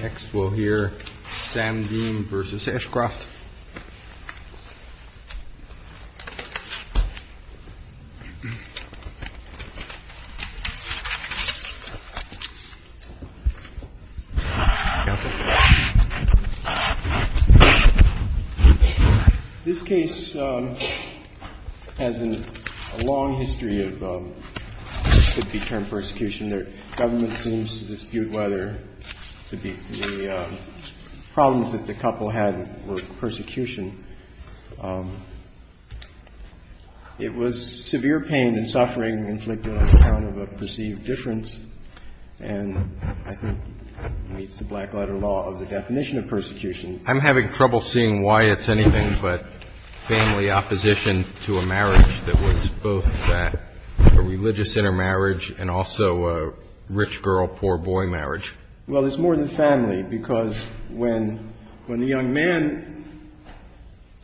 Next we'll hear SAMDEEN v. ASHCROFT This case has a long history of what could be termed persecution. I'm having trouble seeing why it's anything but family opposition to a marriage that was both a religious intermarriage and also a religious intermarriage. It's more than family, because when the young man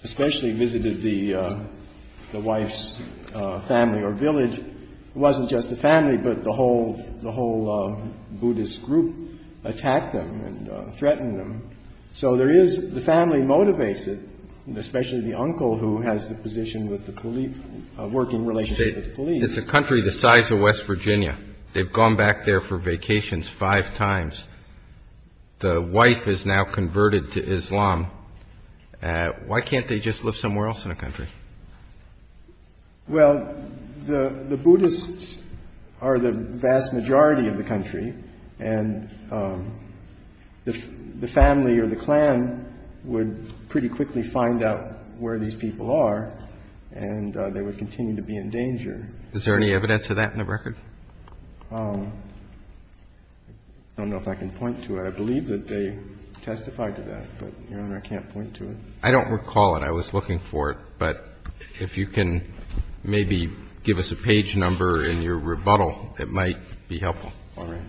especially visited the wife's family or village, it wasn't just the family, but the whole Buddhist group attacked them and threatened them. So the family motivates it, especially the uncle who has a working relationship with the police. It's a country the size of West Virginia. They've gone back there for vacations five times. The wife is now converted to Islam. Why can't they just live somewhere else in the country? Well, the Buddhists are the vast majority of the country, and the family or the clan would pretty quickly find out where these people are, and they would continue to be in danger. Is there any evidence of that in the record? I don't know if I can point to it. I believe that they testified to that, but, Your Honor, I can't point to it. I don't recall it. I was looking for it. But if you can maybe give us a page number in your rebuttal, it might be helpful. All right.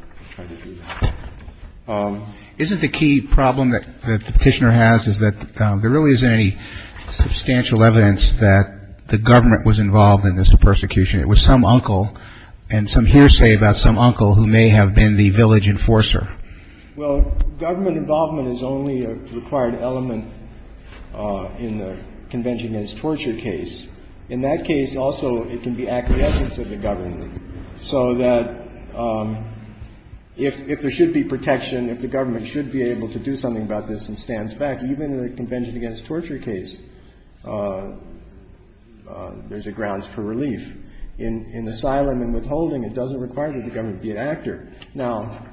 Isn't the key problem that the petitioner has is that there really isn't any substantial evidence that the government was involved in this persecution? It was some uncle and some hearsay about some uncle who may have been the village enforcer. Well, government involvement is only a required element in the Convention Against Torture case. In that case, also, it can be acquiescence of the government so that if there should be protection, if the government should be able to do something about this and stands back, even in the Convention Against Torture case, there's a grounds for relief. In asylum and withholding, it doesn't require that the government be an actor. Now,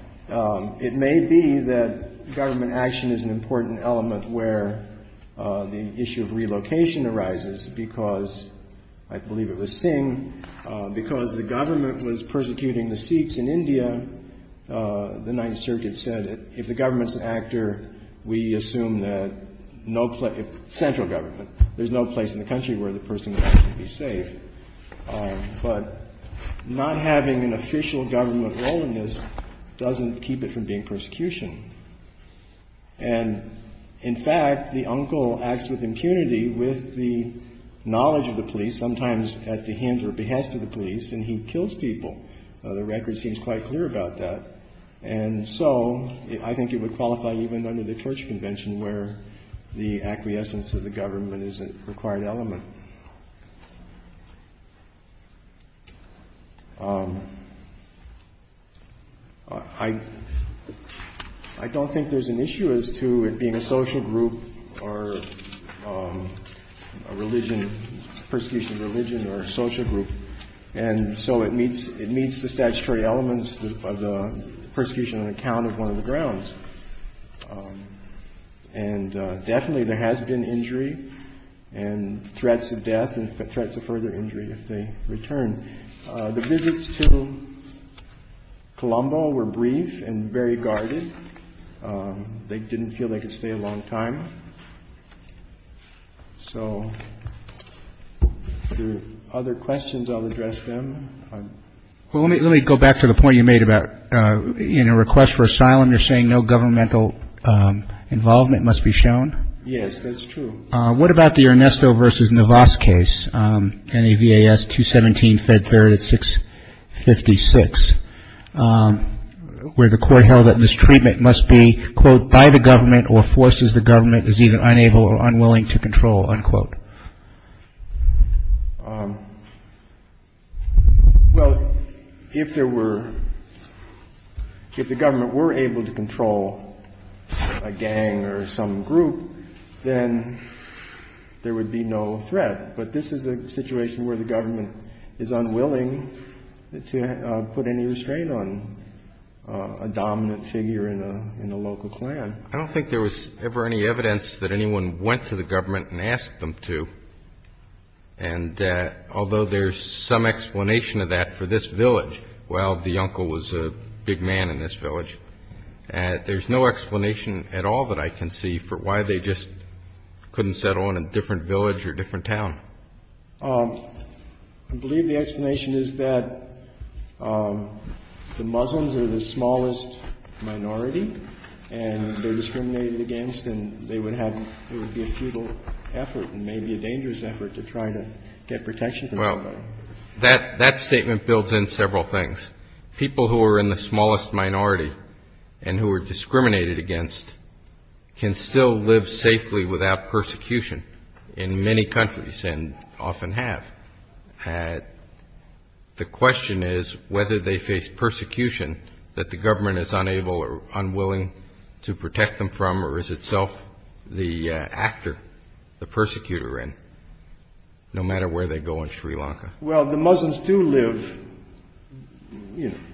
it may be that government action is an important element where the issue of relocation arises because I believe it was Singh. Because the government was persecuting the Sikhs in India, the Ninth Circuit said if the government's an actor, we assume that no place – central government – there's no place in the country where the person would be safe. But not having an official government role in this doesn't keep it from being persecution. And, in fact, the uncle acts with impunity with the knowledge of the police, sometimes at the hint or behest of the police, and he kills people. The record seems quite clear about that. And so I think it would qualify even under the Church Convention where the acquiescence of the government is a required element. I don't think there's an issue as to it being a social group or a religion, persecution of religion or a social group. And so it meets the statutory elements of the persecution on account of one of the grounds. And definitely there has been injury and threats of death and threats of further injury if they return. The visits to Colombo were brief and very guarded. They didn't feel they could stay a long time. So there are other questions. I'll address them. Well, let me go back to the point you made about in a request for asylum, you're saying no governmental involvement must be shown. Yes, that's true. What about the Ernesto versus Navas case, NAVAS 217, Fed 3rd at 656, where the court held that mistreatment must be, quote, by the government or forces the government is either unable or unwilling to control, unquote? Well, if there were, if the government were able to control a gang or some group, then there would be no threat. But this is a situation where the government is unwilling to put any restraint on a dominant figure in a local clan. I don't think there was ever any evidence that anyone went to the government and asked them to. And although there's some explanation of that for this village, while the uncle was a big man in this village, there's no explanation at all that I can see for why they just couldn't settle in a different village or different town. I believe the explanation is that the Muslims are the smallest minority and they're discriminated against and they would have, it would be a futile effort and maybe a dangerous effort to try to get protection from the government. Well, that statement builds in several things. People who are in the smallest minority and who are discriminated against can still live safely without persecution in many countries. And often have had. The question is whether they face persecution that the government is unable or unwilling to protect them from or is itself the actor, the persecutor in no matter where they go in Sri Lanka. Well, the Muslims do live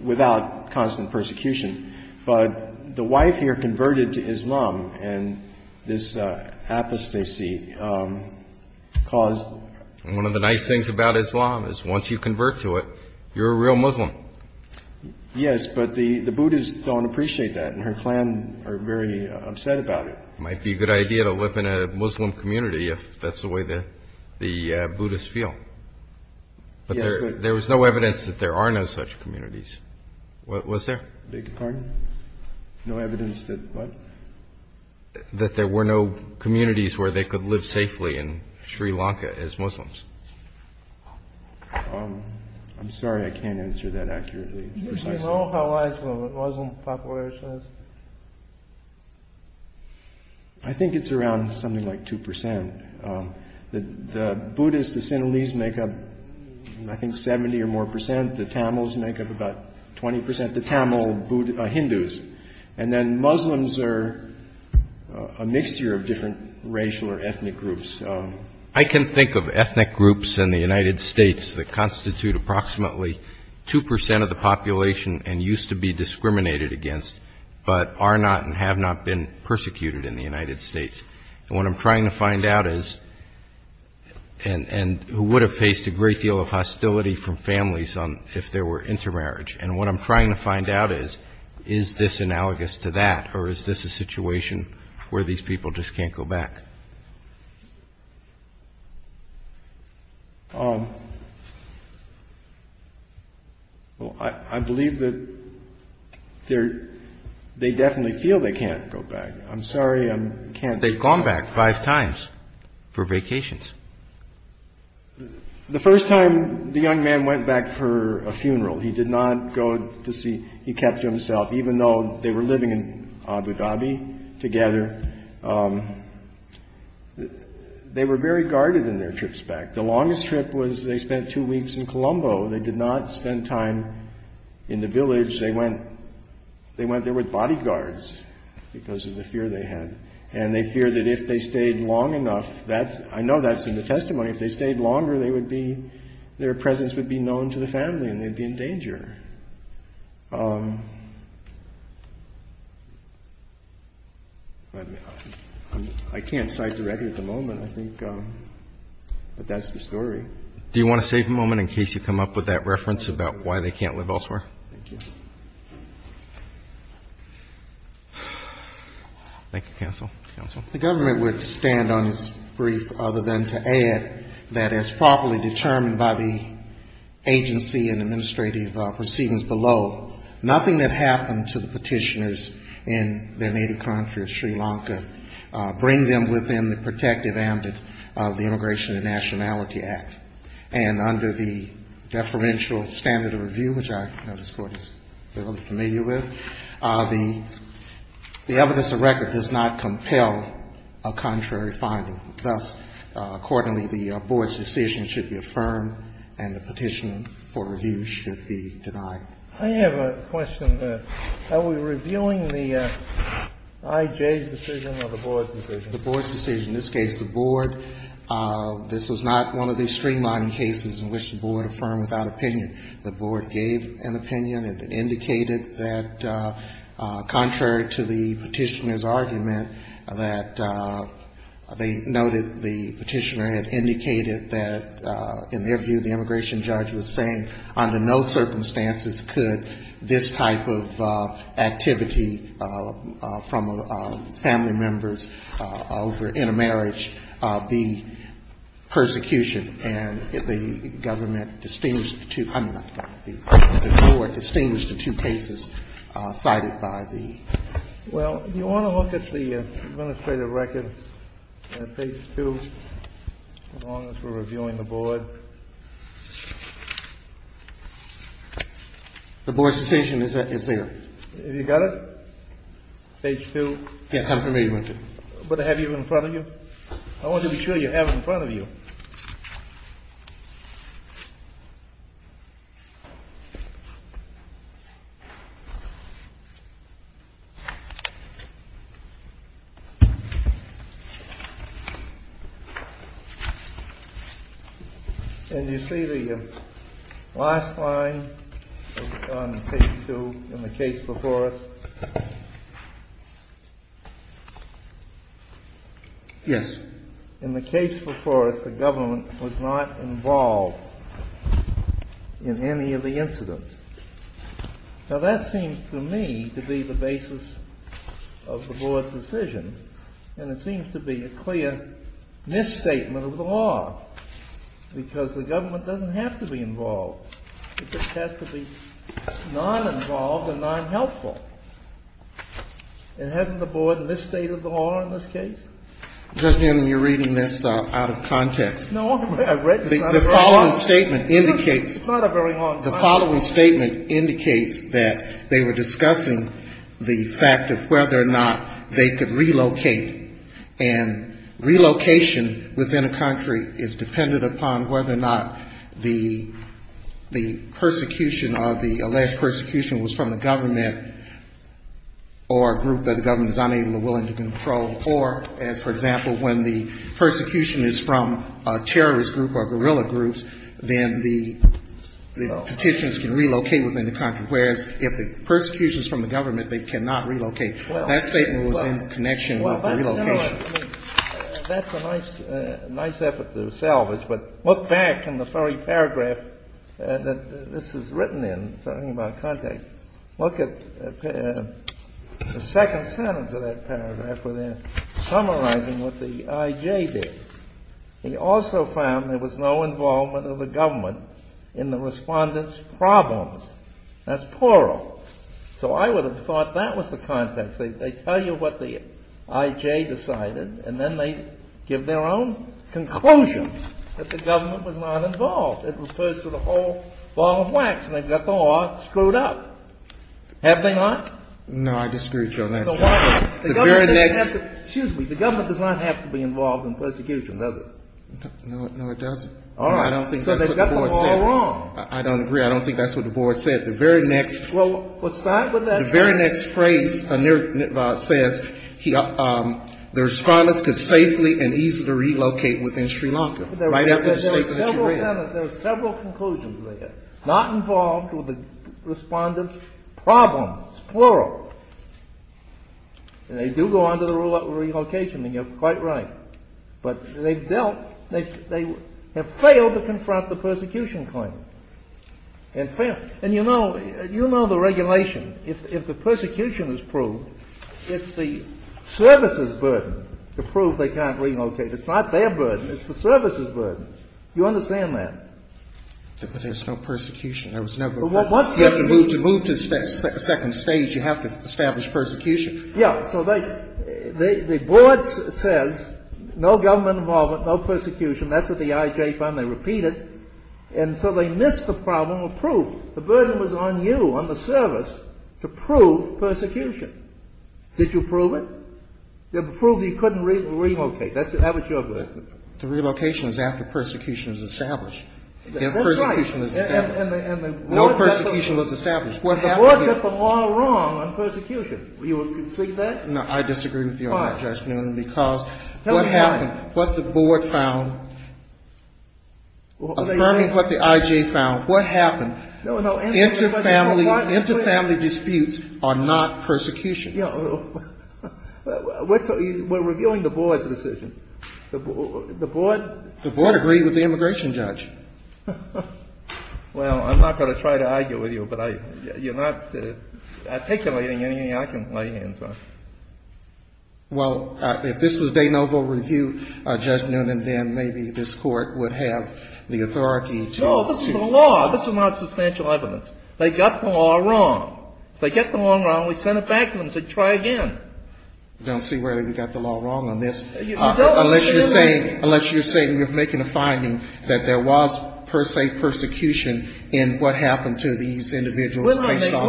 without constant persecution. But the wife here converted to Islam and this apostasy caused one of the nice things about Islam is once you convert to it, you're a real Muslim. Yes, but the Buddhists don't appreciate that. And her clan are very upset about it. Might be a good idea to live in a Muslim community if that's the way that the Buddhists feel. But there was no evidence that there are no such communities. What was there? Beg your pardon? No evidence that what? That there were no communities where they could live safely in Sri Lanka as Muslims. I'm sorry, I can't answer that accurately. Do you know how much the Muslim population is? I think it's around something like 2 percent. The Buddhists, the Sinhalese make up, I think, 70 or more percent. The Tamils make up about 20 percent. The Tamil Hindus. And then Muslims are a mixture of different racial or ethnic groups. I can think of ethnic groups in the United States that constitute approximately 2 percent of the population and used to be discriminated against, but are not and have not been persecuted in the United States. And what I'm trying to find out is, and who would have faced a great deal of hostility from families if there were intermarriage, and what I'm trying to find out is, is this analogous to that or is this a situation where these people just can't go back? Well, I believe that they definitely feel they can't go back. I'm sorry, I can't. They've gone back five times for vacations. The first time, the young man went back for a funeral. He did not go to see. He kept to himself, even though they were living in Abu Dhabi together. They were very guarded in their trips back. The longest trip was they spent two weeks in Colombo. They did not spend time in the village. They went there with bodyguards because of the fear they had. And they feared that if they stayed long enough, that's, I know that's in the testimony, if they stayed longer, they would be, their presence would be known to the family and they'd be in danger. I can't cite the record at the moment, I think, but that's the story. Do you want to save a moment in case you come up with that reference about why they can't live elsewhere? Thank you. Thank you, Counsel. Counsel. The government would stand on its brief other than to add that as properly determined by the agency and administrative proceedings below, nothing had happened to the petitioners in their native country of Sri Lanka, to bring them within the protective ambit of the Immigration and Nationality Act. And under the deferential standard of review, which I know this Court is familiar with, the evidence of record does not compel a contrary finding. Thus, accordingly, the board's decision should be affirmed and the petition for review should be denied. I have a question. Are we reviewing the I.J.'s decision or the board's decision? The board's decision. In this case, the board, this was not one of the streamlining cases in which the board affirmed without opinion. The board gave an opinion and indicated that, contrary to the petitioner's argument, that they noted the petitioner had indicated that, in their view, the immigration judge was saying under no circumstances could this type of activity from family members over intermarriage be persecution. And the government distinguished the two cases cited by the board. Well, you want to look at the administrative record, page 2, as long as we're reviewing the board. The board's petition is there. Have you got it? Page 2. Yes, I'm familiar with it. But I have it in front of you. I want to be sure you have it in front of you. And you see the last line on page 2 in the case before us? Yes. In the case before us, the government was not involved in any of the incidents. Now, that seems to me to be the basis of the board's decision. And it seems to be a clear misstatement of the law because the government doesn't have to be involved. It just has to be non-involved and non-helpful. And hasn't the board misstated the law in this case? Justice Kennedy, you're reading this out of context. No, I'm not. The following statement indicates. It's not a very long time. The following statement indicates that they were discussing the fact of whether or not they could relocate. And relocation within a country is dependent upon whether or not the persecution or the alleged persecution was from the government or a group that the government is unable or willing to control. Or, for example, when the persecution is from a terrorist group or guerrilla groups, then the petitions can relocate within the country, whereas if the persecution is from the government, they cannot relocate. That statement was in connection with the relocation. That's a nice effort to salvage. But look back in the very paragraph that this is written in, talking about context. Look at the second sentence of that paragraph where they're summarizing what the IJ did. He also found there was no involvement of the government in the respondents' problems. That's plural. So I would have thought that was the context. They tell you what the IJ decided, and then they give their own conclusions that the government was not involved. It refers to the whole ball of wax, and they've got the law screwed up. Have they not? No, I disagree with you on that. The government doesn't have to be involved in persecution, does it? No, it doesn't. All right. So they've got the law wrong. I don't agree. I don't think that's what the board said. The very next phrase says the respondents could safely and easily relocate within Sri Lanka. There are several conclusions there. Not involved with the respondents' problems. It's plural. And they do go on to the rule of relocation, and you're quite right. But they have failed to confront the persecution claim. And you know the regulation. If the persecution is proved, it's the services' burden to prove they can't relocate. It's not their burden. It's the services' burden. Do you understand that? But there's no persecution. There was never a persecution. You have to move to the second stage. You have to establish persecution. Yeah. So the board says no government involvement, no persecution. That's what the IJ found. They repeat it. And so they missed the problem of proof. The burden was on you, on the service, to prove persecution. Did you prove it? You proved you couldn't relocate. The relocation is after persecution is established. If persecution is established. No persecution was established. What happened here? The board got the law wrong on persecution. Do you concede that? No. I disagree with you on that, Judge Newman. Why? Because what happened, what the board found, affirming what the IJ found, what happened, interfamily disputes are not persecution. We're reviewing the board's decision. The board? The board agreed with the immigration judge. Well, I'm not going to try to argue with you, but you're not articulating anything I can lay hands on. Well, if this was De Novo Review, Judge Newman, then maybe this court would have the authority to. No, this is the law. This is not substantial evidence. They got the law wrong. If they get the law wrong, we send it back to them and say try again. I don't see where we got the law wrong on this. You don't. Unless you're saying you're making a finding that there was, per se, persecution in what happened to these individuals. We're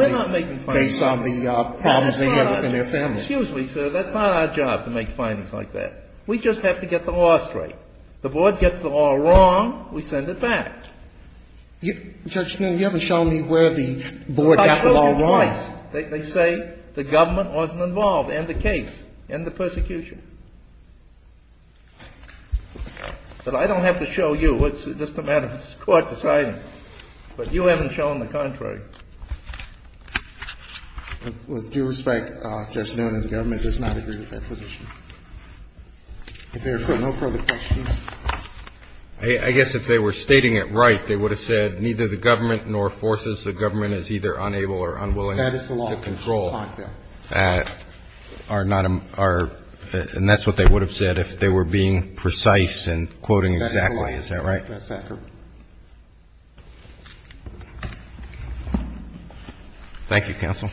not making findings. Based on the problems they had within their families. Excuse me, sir. That's not our job to make findings like that. We just have to get the law straight. The board gets the law wrong, we send it back. Judge Newman, you haven't shown me where the board got the law wrong. I told you twice. They say the government wasn't involved in the case, in the persecution. But I don't have to show you. It's just a matter of this Court deciding. But you haven't shown the contrary. With due respect, Judge Newman, the government does not agree with that position. If there are no further questions. I guess if they were stating it right, they would have said neither the government nor forces the government is either unable or unwilling to control. That is the law. And that's what they would have said if they were being precise and quoting exactly. Is that right? That's correct. Thank you, Counsel.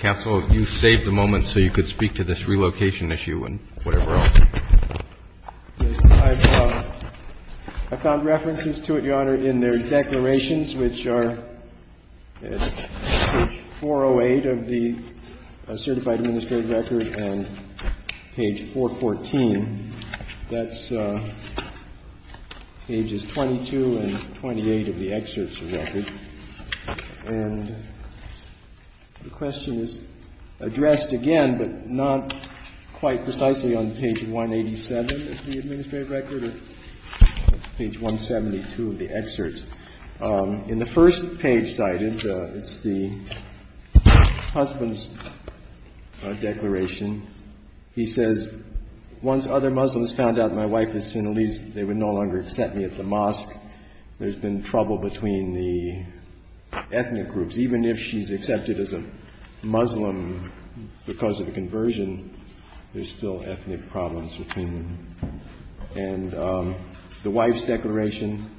Counsel, you saved the moment so you could speak to this relocation issue and whatever else. Yes. I found references to it, Your Honor, in their declarations, which are page 408 of the certified administrative record and page 414. That's pages 22 and 28 of the excerpts of the record. And the question is addressed again, but not quite precisely on page 187 of the administrative record or page 172 of the excerpts. In the first page cited, it's the husband's declaration. He says, once other Muslims found out my wife was Sinhalese, they would no longer accept me at the mosque. There's been trouble between the ethnic groups. Even if she's accepted as a Muslim because of the conversion, there's still ethnic problems between them. And the wife's declaration,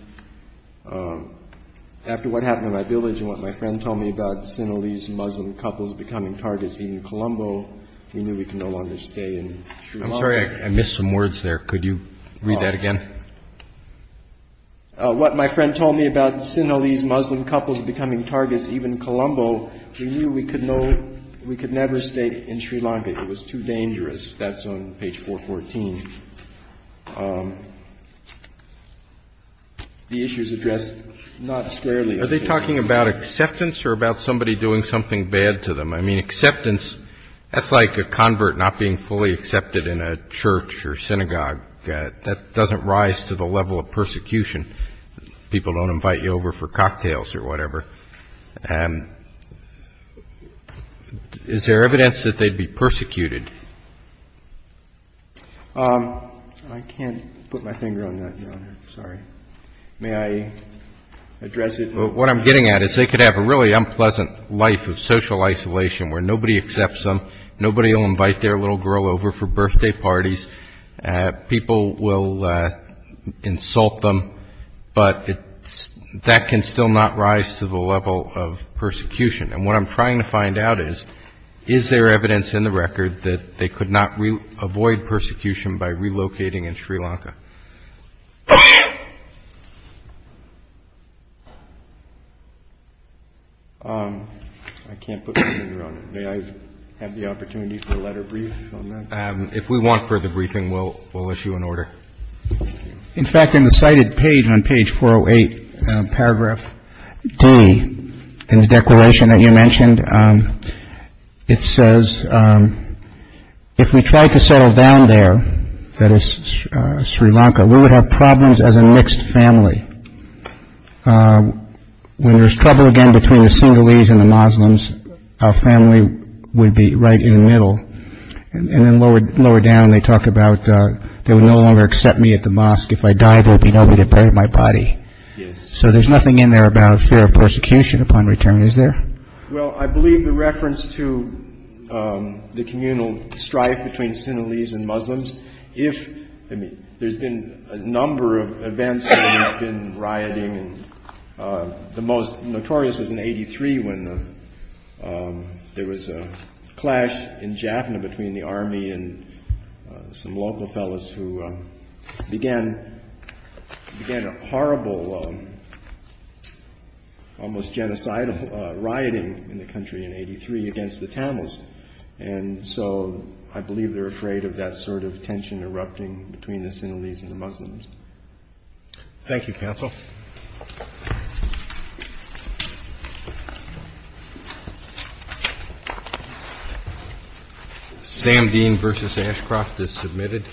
after what happened in my village and what my friend told me about Sinhalese Muslim couples becoming targets in Colombo, he knew we could no longer stay in Sri Lanka. I'm sorry. I missed some words there. Could you read that again? What my friend told me about Sinhalese Muslim couples becoming targets even in Colombo, he knew we could never stay in Sri Lanka. It was too dangerous. That's on page 414. The issue is addressed not squarely. Are they talking about acceptance or about somebody doing something bad to them? I mean, acceptance, that's like a convert not being fully accepted in a church or synagogue. That doesn't rise to the level of persecution. People don't invite you over for cocktails or whatever. Is there evidence that they'd be persecuted? I can't put my finger on that, Your Honor. Sorry. May I address it? What I'm getting at is they could have a really unpleasant life of social isolation where nobody accepts them, nobody will invite their little girl over for birthday parties, people will insult them, but that can still not rise to the level of persecution. And what I'm trying to find out is, is there evidence in the record that they could not avoid persecution by relocating in Sri Lanka? I can't put my finger on it. May I have the opportunity for a letter brief on that? If we want further briefing, we'll issue an order. In fact, in the cited page on page 408, paragraph D in the declaration that you mentioned, it says, if we tried to settle down there, that is Sri Lanka, we would have problems as a mixed family. When there's trouble again between the Sinhalese and the Muslims, our family would be right in the middle. And then lower, lower down, they talk about they would no longer accept me at the mosque. If I died, there would be nobody to bury my body. So there's nothing in there about fear of persecution upon return, is there? Well, I believe the reference to the communal strife between Sinhalese and Muslims, if there's been a number of events that have been rioting, the most notorious was in 83 when there was a clash in Jaffna between the army and some local fellows who began a horrible, almost genocidal, rioting in the country in 83 against the Tamils. And so I believe they're afraid of that sort of tension erupting between the Sinhalese and the Muslims. Thank you, counsel. Sam Dean versus Ashcroft is submitted.